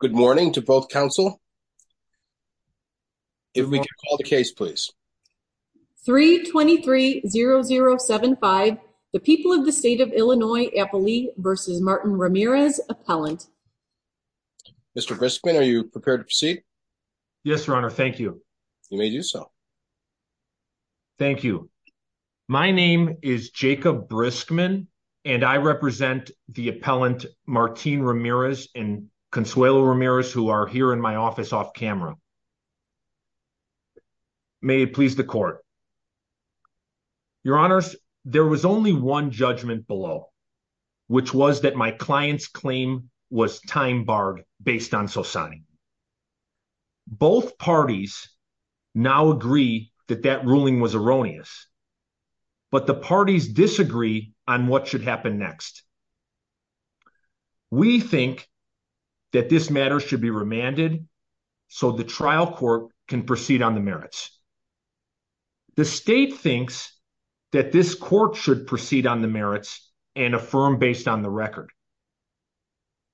Good morning to both counsel. If we can call the case, please 3 23 0 0 75. The people of the state of Illinois Eppley versus Martin Ramirez appellant. Mr Briskman, are you prepared to proceed? Yes, Your Honor. Thank you. You may do so. Thank you. My name is Jacob Briskman and I represent the appellant Martin Ramirez and Consuelo Ramirez, who are here in my office off camera. May it please the court. Your honors, there was only one judgment below, which was that my client's claim was time barred based on society. Both parties now agree that that ruling was erroneous, but the parties disagree on what should happen next. We think that this matter should be remanded so the trial court can proceed on the merits. The state thinks that this court should proceed on the merits and affirm based on the record.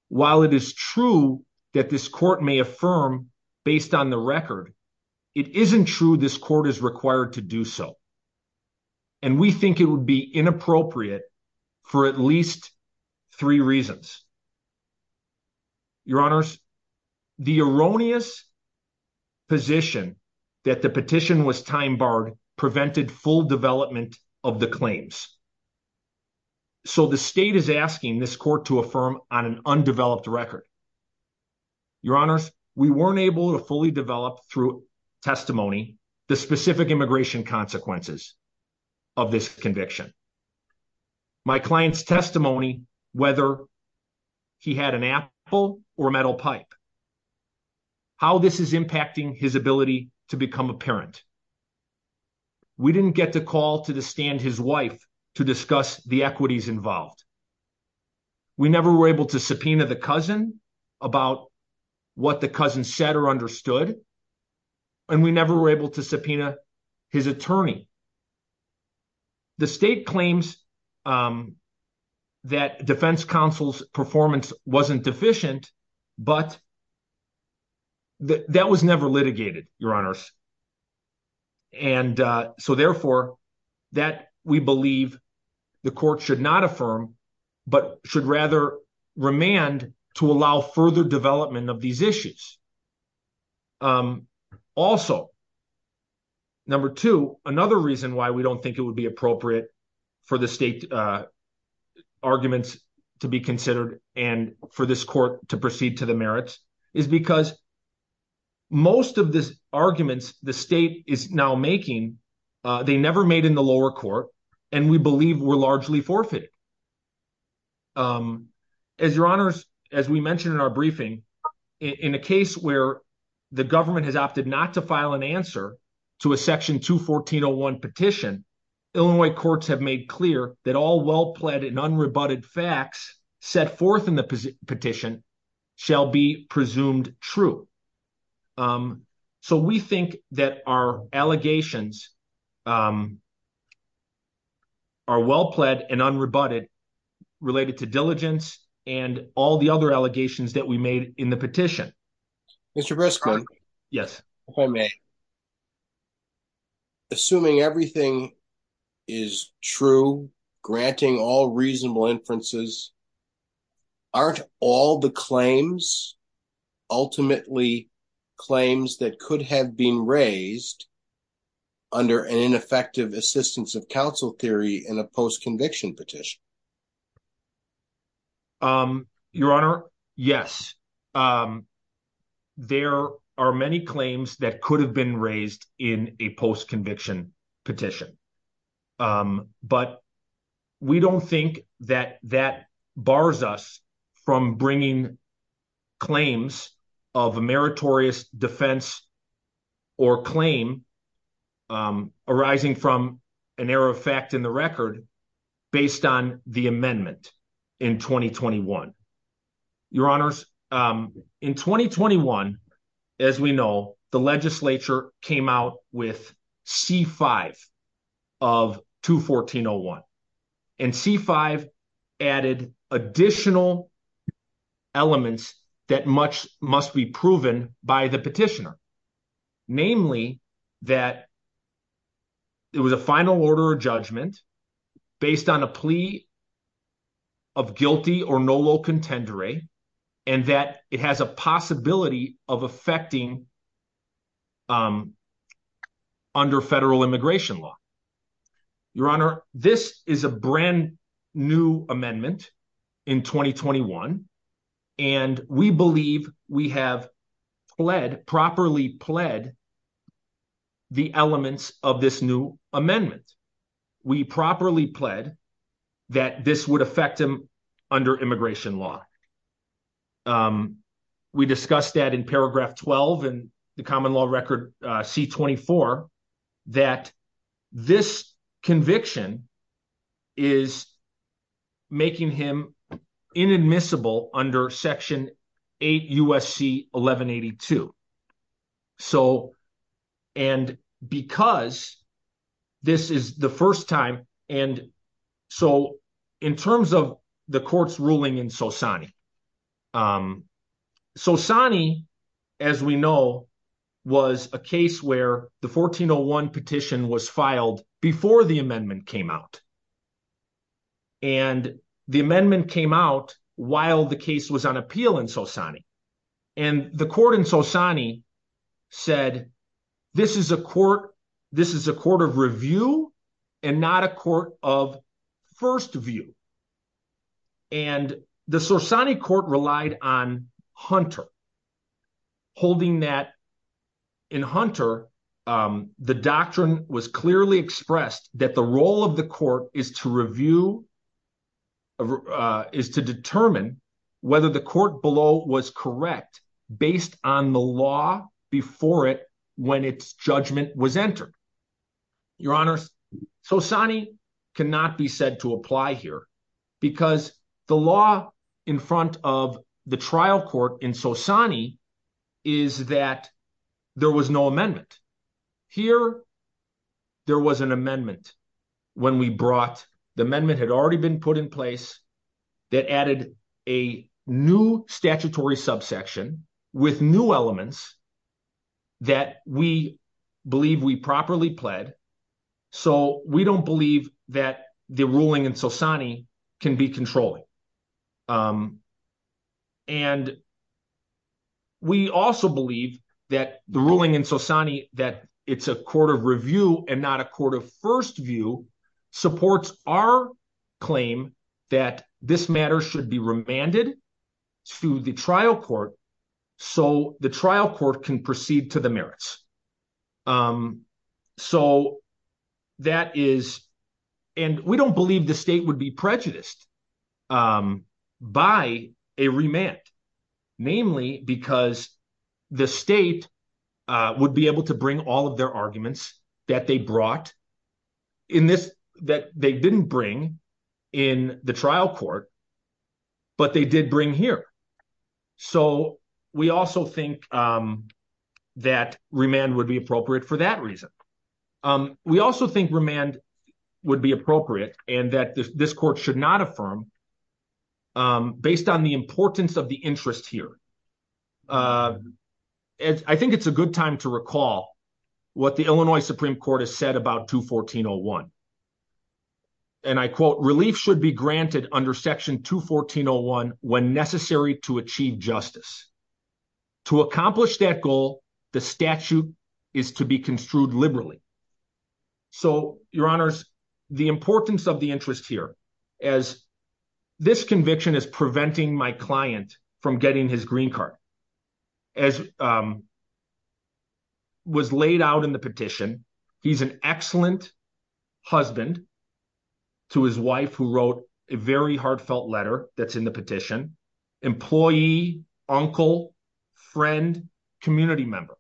While it is true that this court may affirm based on the record, it isn't true this court is required to do so. And we think it would be inappropriate for at least three reasons. Your honors, the erroneous position that the petition was time barred prevented full development of the claims. So the state is asking this court to affirm on an undeveloped record. Your honors, we weren't able to fully develop through testimony, the consequences of this conviction. My client's testimony, whether he had an apple or a metal pipe, how this is impacting his ability to become a parent. We didn't get to call to the stand his wife to discuss the equities involved. We never were able to subpoena the cousin about what the cousin said or understood. And we never were able to subpoena his attorney. The state claims that defense counsel's performance wasn't deficient, but that was never litigated, your honors. And so therefore that we believe the court should not affirm, but should rather remand to allow further development of these issues. Also, number two, another reason why we don't think it would be appropriate for the state arguments to be considered and for this court to proceed to the merits is because most of this arguments the state is now making, they never made in the lower court and we believe were largely forfeited. As your honors, as we mentioned in our briefing, in a case like this, where the government has opted not to file an answer to a section 214-01 petition, Illinois courts have made clear that all well-pled and unrebutted facts set forth in the petition shall be presumed true. So we think that our allegations are well-pled and unrebutted related to diligence and all the other allegations that we made in the petition. Mr. Briskman. Yes, if I may. Assuming everything is true, granting all reasonable inferences, aren't all the claims ultimately claims that could have been raised under an ineffective assistance of counsel theory in a post-conviction petition? Um, your honor. Yes. Um, there are many claims that could have been raised in a post-conviction petition, um, but we don't think that that bars us from bringing claims of a meritorious defense or claim, um, arising from an error of fact in the record based on the amendment in 2021. Your honors, um, in 2021, as we know, the legislature came out with C5 of 214-01 and C5 added additional elements that much must be proven by the petitioner. Namely that it was a final order of judgment based on a plea of guilty or nolo contendere and that it has a possibility of affecting, um, under federal immigration law. Your honor, this is a brand new amendment in 2021, and we believe we have led, properly pled the elements of this new amendment. We properly pled that this would affect him under immigration law. Um, we discussed that in paragraph 12 and the common law record, uh, C24, that this conviction is making him inadmissible under section 8 USC 1182. So, and because this is the first time, and so in terms of the court's ruling in Sosani, um, Sosani, as we know, was a case where the 1401 petition was filed before the amendment came out. And the amendment came out while the case was on appeal in Sosani. And the court in Sosani said, this is a court, this is a court of review and not a court of first view. And the Sosani court relied on Hunter holding that in Hunter, um, the doctrine was clearly expressed that the role of the court is to review, uh, is to correct based on the law before it, when it's judgment was entered. Your honors, Sosani cannot be said to apply here because the law in front of the trial court in Sosani is that there was no amendment here, there was an amendment when we brought the amendment had already been put in place that added a new statutory subsection with new elements that we believe we properly pled, so we don't believe that the ruling in Sosani can be controlling. Um, and we also believe that the ruling in Sosani, that it's a court of review and not a court of first view supports our claim that this matter should be remanded to the trial court so the trial court can proceed to the merits. Um, so that is, and we don't believe the state would be prejudiced, um, by a remand, namely because the state, uh, would be able to bring all of their assets that they brought in this, that they didn't bring in the trial court, but they did bring here. So we also think, um, that remand would be appropriate for that reason. Um, we also think remand would be appropriate and that this court should not affirm, um, based on the importance of the interest here. Uh, I think it's a good time to recall what the Illinois Supreme court has said about two 14 Oh one. And I quote relief should be granted under section two 14 Oh one when necessary to achieve justice. To accomplish that goal, the statute is to be construed liberally. So your honors, the importance of the interest here as this conviction is preventing my client from getting his green card as, um, was laid out in the petition. He's an excellent husband to his wife who wrote a very heartfelt letter that's in the petition. Employee, uncle, friend, community member.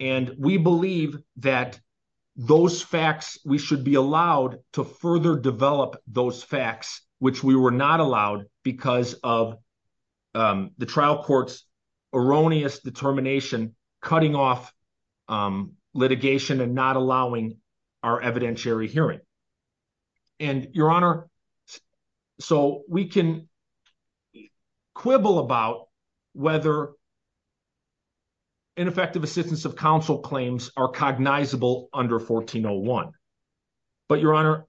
And we believe that those facts, we should be allowed to further develop those facts, which we were not allowed because of, um, the trial court's erroneous determination, cutting off, um, litigation and not allowing our evidentiary hearing. And your honor, so we can quibble about whether ineffective assistance of counsel claims are cognizable under 14 Oh one, but your honor,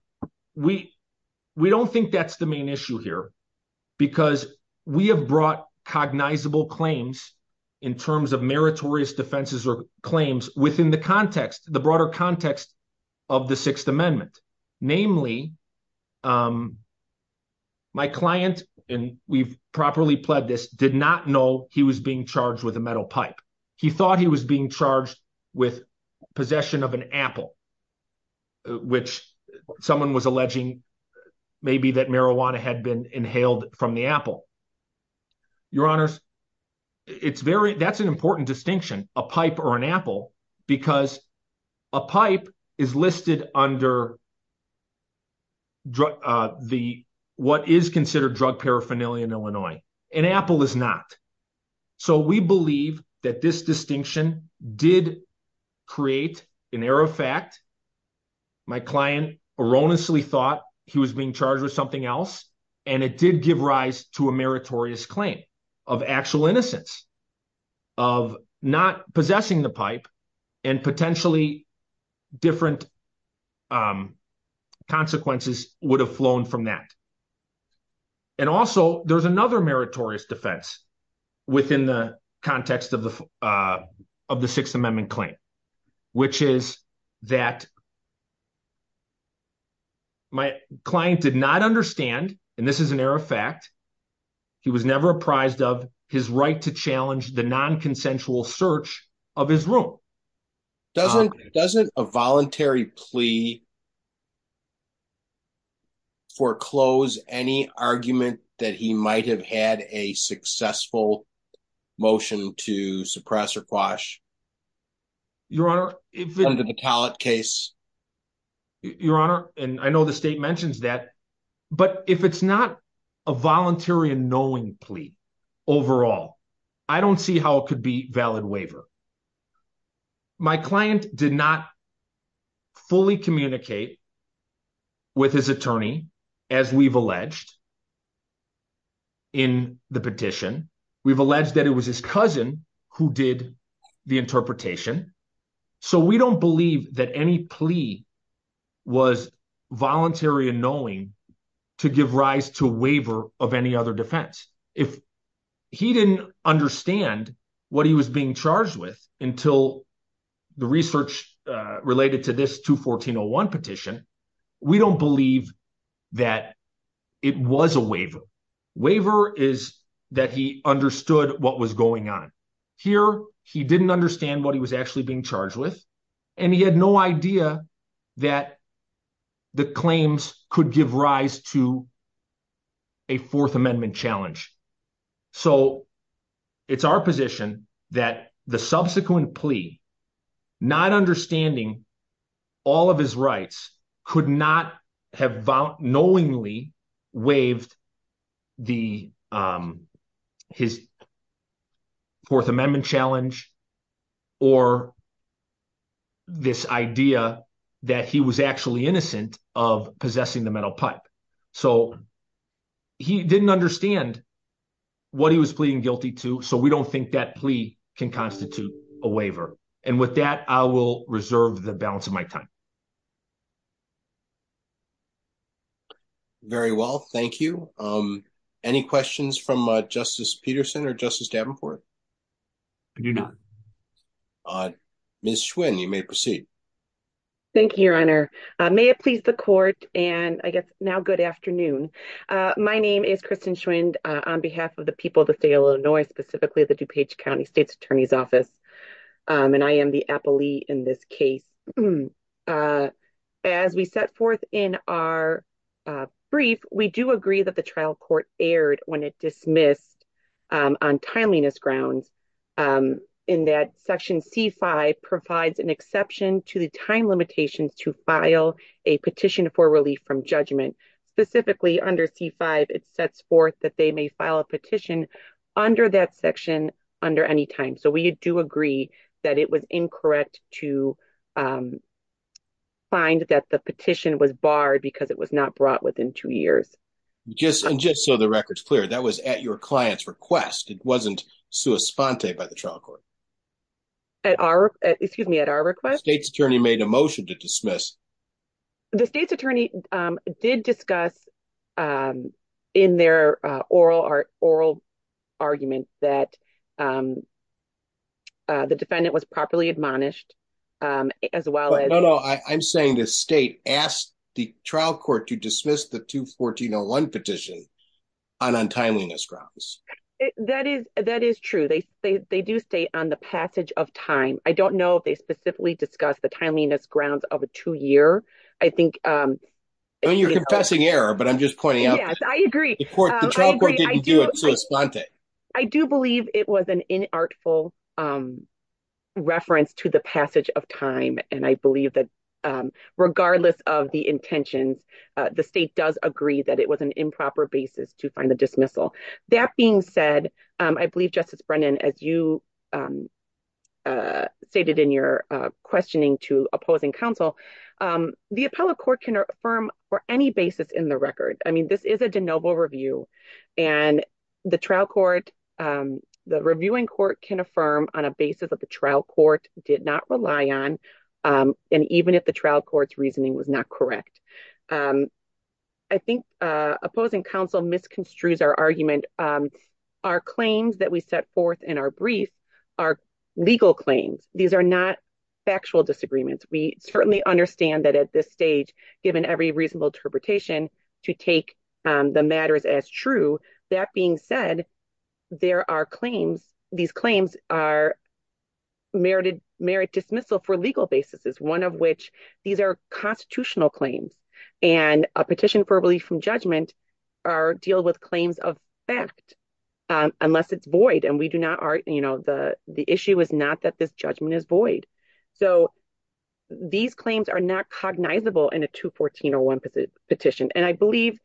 we. We don't think that's the main issue here because we have brought cognizable claims in terms of meritorious defenses or claims within the context, the broader context of the sixth amendment, namely, um, my client, and we've properly pled this, did not know he was being charged with a metal pipe. He thought he was being charged with possession of an apple, which someone was alleging maybe that marijuana had been inhaled from the apple. Your honors, it's very, that's an important distinction, a pipe or an apple, because a pipe is listed under. Drug, uh, the, what is considered drug paraphernalia in Illinois and apple is not, so we believe that this distinction did create an error of fact. My client erroneously thought he was being charged with something else and it did give rise to a meritorious claim of actual innocence of not possessing the pipe and potentially different. Um, consequences would have flown from that. And also there's another meritorious defense within the context of the, uh, of the sixth amendment claim, which is that my client did not understand, and this is an error of fact, he was never apprised of his right to challenge the non-consensual search of his room. Doesn't a voluntary plea foreclose any argument that he might have had a non-consensual search under the pallet case? Your honor, and I know the state mentions that, but if it's not a voluntary and knowing plea overall, I don't see how it could be valid waiver. My client did not fully communicate with his attorney, as we've alleged in the petition, we've alleged that it was his cousin who did the interpretation, so we don't believe that any plea was voluntary and knowing to give rise to waiver of any other defense, if he didn't understand what he was being charged with until the research, uh, related to this 214-01 petition, we don't believe that it was a waiver, waiver is that he understood what was going on. Here, he didn't understand what he was actually being charged with. And he had no idea that the claims could give rise to a fourth amendment challenge. So it's our position that the subsequent plea, not understanding all of his rights could not have knowingly waived the, um, his fourth amendment challenge or this idea that he was actually innocent of possessing the metal pipe. So he didn't understand what he was pleading guilty to. So we don't think that plea can constitute a waiver. And with that, I will reserve the balance of my time. Very well. Thank you. Um, any questions from, uh, justice Peterson or justice Davenport? I do not. Uh, Ms. Schwinn, you may proceed. Thank you, your honor. Uh, may it please the court and I guess now good afternoon. Uh, my name is Kristen Schwinn, uh, on behalf of the people of the state of Illinois, specifically the DuPage County state's attorney's office. Um, and I am the appellee in this case. Uh, as we set forth in our, uh, brief, we do agree that the trial court aired when it dismissed, um, on timeliness grounds, um, in that section C5 provides an exception to the time limitations to file a petition for relief from judgment. Specifically under C5, it sets forth that they may file a petition under that section under any time. So we do agree that it was incorrect to, um, find that the petition was barred because it was not brought within two years, just, and just so the record's clear, that was at your client's request. It wasn't sua sponte by the trial court. At our, excuse me, at our request, state's attorney made a motion to dismiss. The state's attorney, um, did discuss, um, in their, uh, oral art oral argument that, um, uh, the defendant was properly admonished. Um, as well, I'm saying the state asked the trial court to dismiss the two 1401 petition on, on timeliness grounds. That is, that is true. They say they do stay on the passage of time. I don't know if they specifically discuss the timeliness grounds of a two year. I think, um, I mean, you're confessing error, but I'm just pointing out. I agree. The trial court didn't do a sua sponte. I do believe it was an inartful, um, reference to the passage of time. And I believe that, um, regardless of the intentions, uh, the state does agree that it was an improper basis to find the dismissal that being said. Um, I believe justice Brennan, as you, um, uh, stated in your, uh, questioning to opposing counsel, um, the appellate court can affirm for any basis in the record. I mean, this is a DeNoble review and the trial court, um, the reviewing court can affirm on a basis of the trial court did not rely on, um, and even if the trial court's reasoning was not correct. Um, I think, uh, opposing counsel misconstrues our argument. Um, our claims that we set forth in our brief are legal claims. These are not factual disagreements. We certainly understand that at this stage, given every reasonable interpretation to take, um, the matters as true, that being said, there are claims, these claims are merited merit dismissal for legal basis is one of which these are constitutional claims and a petition for relief from judgment. Our deal with claims of fact, um, unless it's void and we do not, our, you know, the, the issue is not that this judgment is void. So these claims are not cognizable in a two 14 or one petition. And I believe,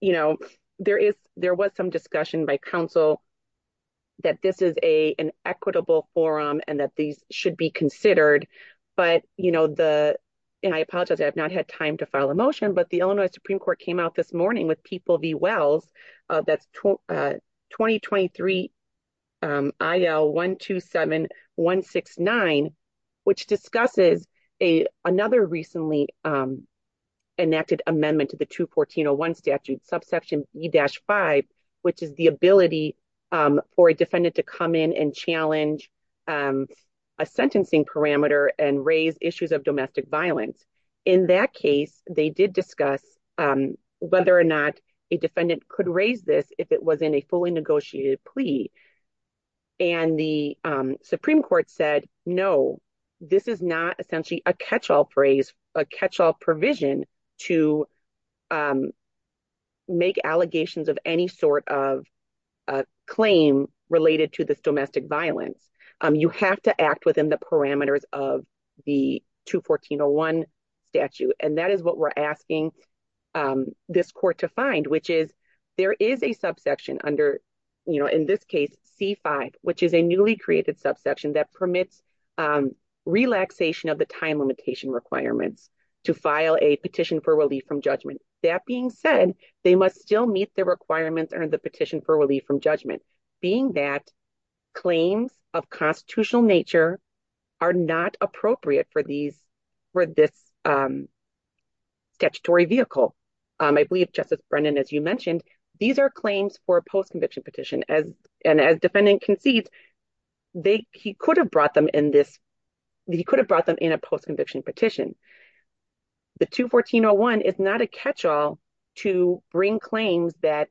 you know, there is, there was some discussion by council that this is a, an equitable forum and that these should be considered, but you know, the, and I apologize, I have not had time to file a motion, but the Illinois Supreme court came out this morning with people V Wells, uh, that's 2023. Um, I L one, two, seven, one, six, nine, which discusses a, another recently, um, enacted amendment to the two 1401 statute subsection E dash five, which is the ability, um, for a defendant to come in and challenge, um, a sentencing parameter and raise issues of domestic violence in that case, they did discuss, um, whether or not a defendant could raise this if it was in a fully negotiated plea and the, um, Supreme court said, no, this is not essentially a catch-all phrase, a catch-all provision to, um, make allegations of any sort of, uh, claim related to this domestic violence. Um, you have to act within the parameters of the two 14 or one statute. And that is what we're asking, um, this court to find, which is there is a under, you know, in this case, C five, which is a newly created subsection that permits, um, relaxation of the time limitation requirements to file a petition for relief from judgment. That being said, they must still meet the requirements or the petition for relief from judgment. Being that claims of constitutional nature are not appropriate for these, for this, um, statutory vehicle. Um, I believe justice Brennan, as you mentioned, these are claims for a post conviction petition as, and as defendant concedes they, he could have brought them in this, he could have brought them in a post conviction petition. The two 14 or one is not a catch-all to bring claims that,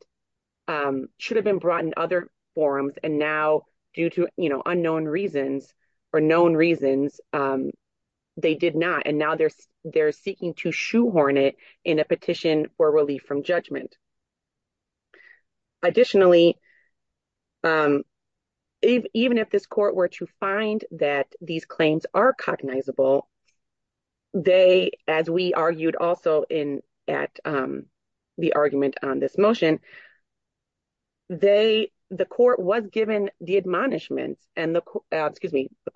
um, should have been brought in other forums. And now due to, you know, unknown reasons or known reasons, um, they did not. And now they're, they're seeking to shoehorn it in a petition for relief from judgment. Additionally, um, even if this court were to find that these claims are cognizable, they, as we argued also in, at, um, the argument on this motion, they, the court was given the admonishments and the excuse me, the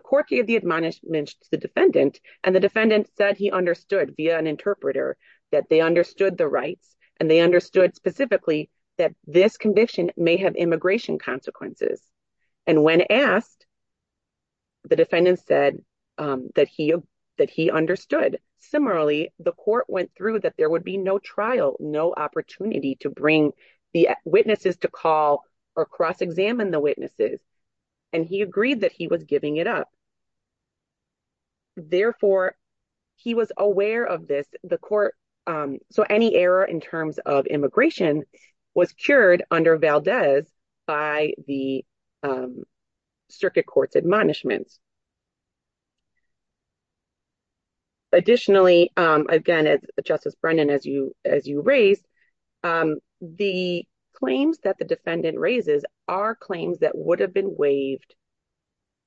court gave the admonishments to the defendant and the defendant said he understood via an interpreter that they understood the rights and they understood specifically that this condition may have immigration consequences. And when asked, the defendant said, um, that he, that he understood. Similarly, the court went through that there would be no trial, no opportunity to bring the witnesses to call or cross examine the witnesses, and he agreed that he was giving it up. Therefore he was aware of this, the court, um, so any error in terms of immigration was cured under Valdez by the, um, circuit court's admonishments. Additionally, um, again, as Justice Brennan, as you, as you raised, um, the claims that the defendant raises are claims that would have been waived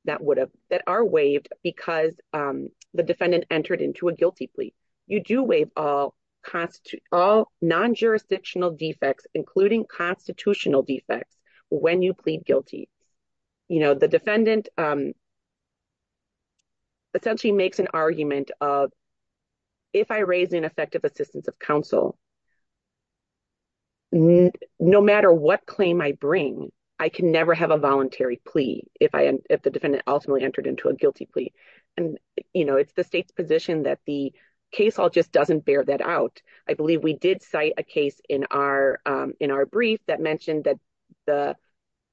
that would have, that are waived because, um, the defendant entered into a guilty plea, you do waive all constitute all non-jurisdictional defects, including constitutional defects when you plead guilty, you know, the defendant, um, essentially makes an argument of if I raise ineffective assistance of counsel, no matter what claim I bring, I can never have a voluntary plea if I, if the defendant ultimately entered into a guilty plea and, you know, it's the state's position that the case all just doesn't bear that out. I believe we did cite a case in our, um, in our brief that mentioned that the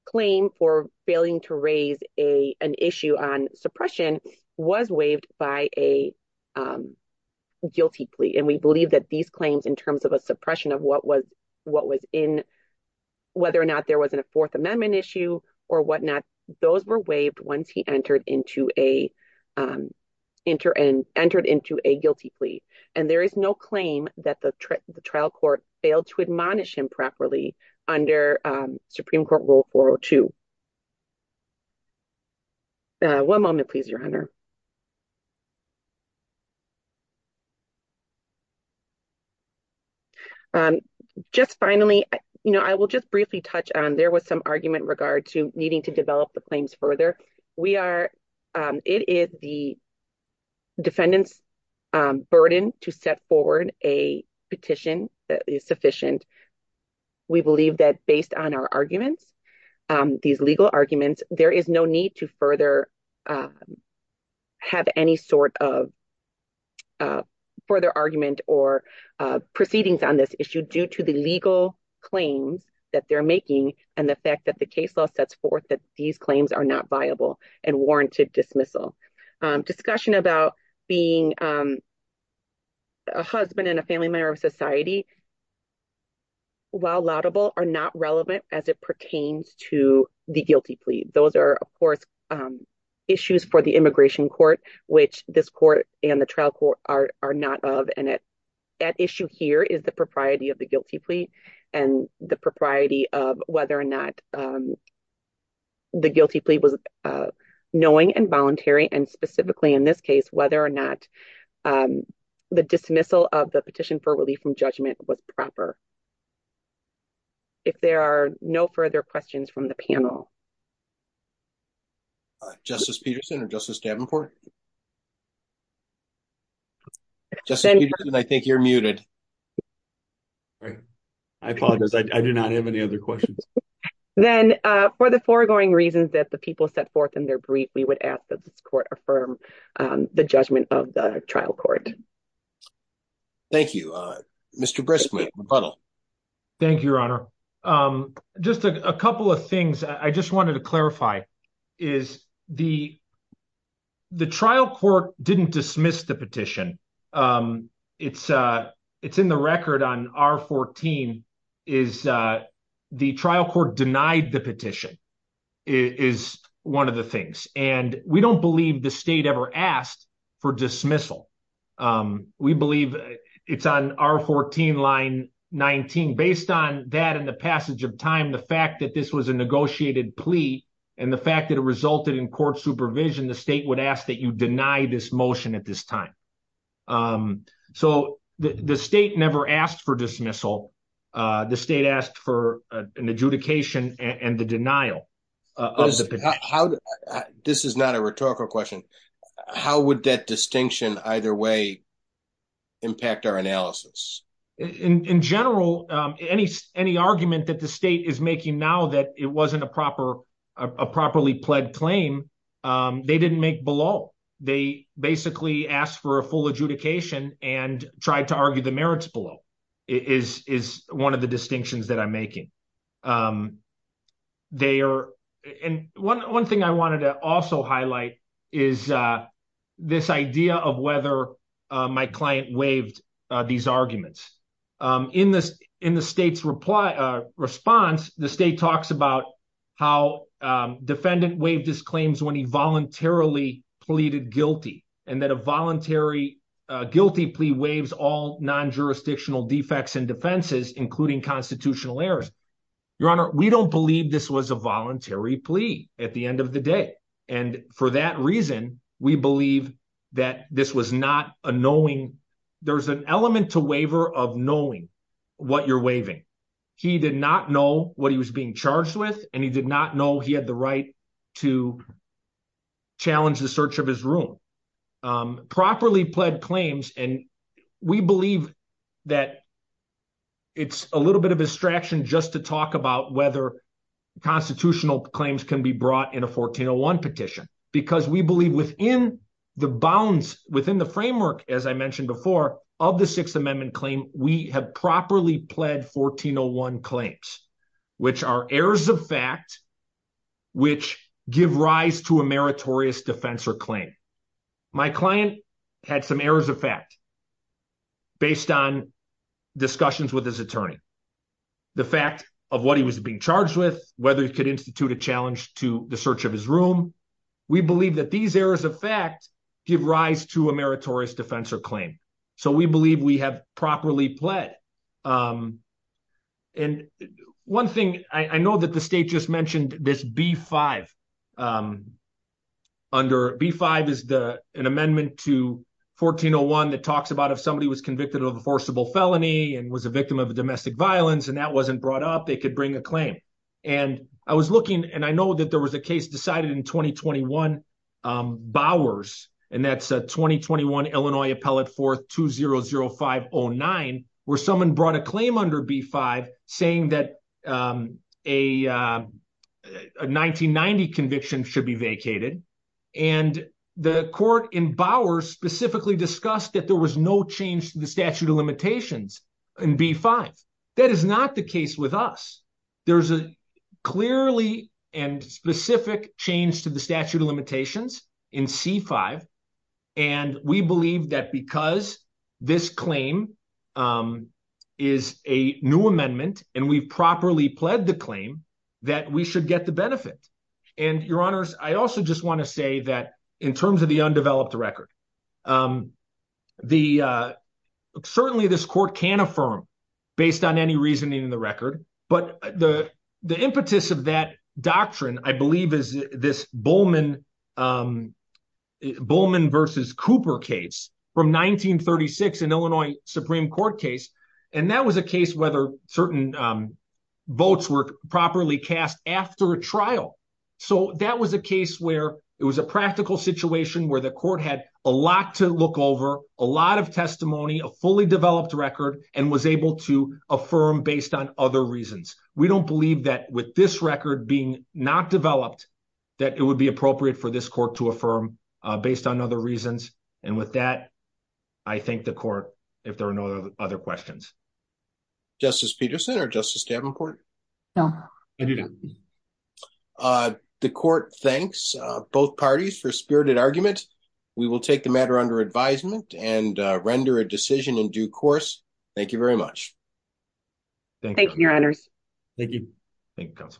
claim for failing to raise a, an issue on suppression was waived by a, um, guilty plea. And we believe that these claims in terms of a suppression of what was, what was in, whether or not there wasn't a fourth amendment issue or whatnot, those were waived once he entered into a, um, enter and entered into a guilty plea. And there is no claim that the trial court failed to admonish him properly under, um, Supreme court rule 402. Uh, one moment, please, your honor. Um, just finally, you know, I will just briefly touch on, there was some argument in regard to needing to develop the claims further. We are, um, it is the defendant's burden to set forward a petition that is sufficient. We believe that based on our arguments, um, these legal arguments, there is no need to further, um, have any sort of, uh, further argument or, uh, proceedings on this issue due to the legal claims that they're making and the fact that the case law sets forth that these claims are not viable and warranted dismissal. Um, discussion about being, um, a husband and a family member of society while laudable are not relevant as it pertains to the guilty plea. Those are of course, um, issues for the immigration court, which this court and the trial court are not of. And it, that issue here is the propriety of the guilty plea and the propriety of whether or not, um, the guilty plea was, uh, knowing and voluntary and specifically in this case, whether or not, um, the dismissal of the petition for relief from judgment was proper if there are no further questions from the panel, uh, justice Peterson or justice Davenport, just because I think you're muted, I apologize. I do not have any other questions. Then, uh, for the foregoing reasons that the people set forth in their brief, we would ask that this court affirm, um, the judgment of the trial court. Thank you, uh, Mr. Briskman. Thank you, your honor. Um, just a couple of things I just wanted to clarify is the, the trial court didn't dismiss the petition. Um, it's, uh, it's in the record on our 14 is, uh, the trial court denied the petition is one of the things. And we don't believe the state ever asked for dismissal. Um, we believe it's on our 14 line 19, based on that in the passage of time, the fact that this was a negotiated plea. And the fact that it resulted in court supervision, the state would ask that you deny this motion at this time. Um, so the state never asked for dismissal. Uh, the state asked for an adjudication and the denial, uh, this is not a rhetorical question. How would that distinction either way? Impact our analysis in general. Um, any, any argument that the state is making now that it wasn't a proper, a properly pled claim. Um, they didn't make below. They basically asked for a full adjudication and tried to argue the Um, they are, and one, one thing I wanted to also highlight is, uh, this idea of whether, uh, my client waived, uh, these arguments, um, in this, in the state's reply, uh, response, the state talks about how, um, defendant waived his claims when he voluntarily pleaded guilty and that a voluntary, uh, guilty plea waives all non-jurisdictional defects and defenses, including constitutional errors. Your honor, we don't believe this was a voluntary plea at the end of the day. And for that reason, we believe that this was not a knowing there's an element to waiver of knowing what you're waving. He did not know what he was being charged with and he did not know he had the right to challenge the search of his room. Um, properly pled claims. And we believe that it's a little bit of a distraction just to talk about whether constitutional claims can be brought in a 1401 petition, because we believe within the bounds within the framework, as I mentioned before, of the sixth amendment claim, we have properly pled 1401 claims, which are errors of fact, which give rise to a meritorious defense or claim. My client had some errors of fact, based on discussions with his attorney, the fact of what he was being charged with, whether he could institute a challenge to the search of his room, we believe that these errors of fact, give rise to a meritorious defense or claim. So we believe we have properly pled. Um, and one thing I know that the state just mentioned this B five, um, under B five is the, an amendment to 1401 that talks about if somebody was convicted of a forcible felony and was a victim of domestic violence, and that wasn't brought up, they could bring a claim. And I was looking and I know that there was a case decided in 2021. Um, Bowers and that's a 2021 Illinois appellate for two zero zero five Oh nine, where someone brought a claim under B five saying that, um, a, uh, a 1990 conviction should be vacated. And the court in Bowers specifically discussed that there was no change to the statute of limitations and B five. That is not the case with us. There's a clearly and specific change to the statute of limitations in C five. And we believe that because this claim, um, is a new amendment and we've properly pled the claim that we should get the benefit and your honors. I also just want to say that in terms of the undeveloped record, um, the, uh, certainly this court can affirm based on any reasoning in the record, but the, the impetus of that doctrine, I believe is this Bowman, um, Bowman versus Cooper case from 1936 in Illinois Supreme court case. And that was a case whether certain, um, votes were properly cast after a trial. So that was a case where it was a practical situation where the court had a lot to look over a lot of testimony, a fully developed record, and was able to affirm based on other reasons. We don't believe that with this record being not developed, that it would be appropriate for this court to affirm, uh, based on other reasons. And with that, I think the court, if there are no other questions, justice Peterson or justice Davenport. No. I do not. Uh, the court, thanks, uh, both parties for spirited argument. We will take the matter under advisement and, uh, render a decision in due course. Thank you very much. Thank you, your honors. Thank you. Thank you.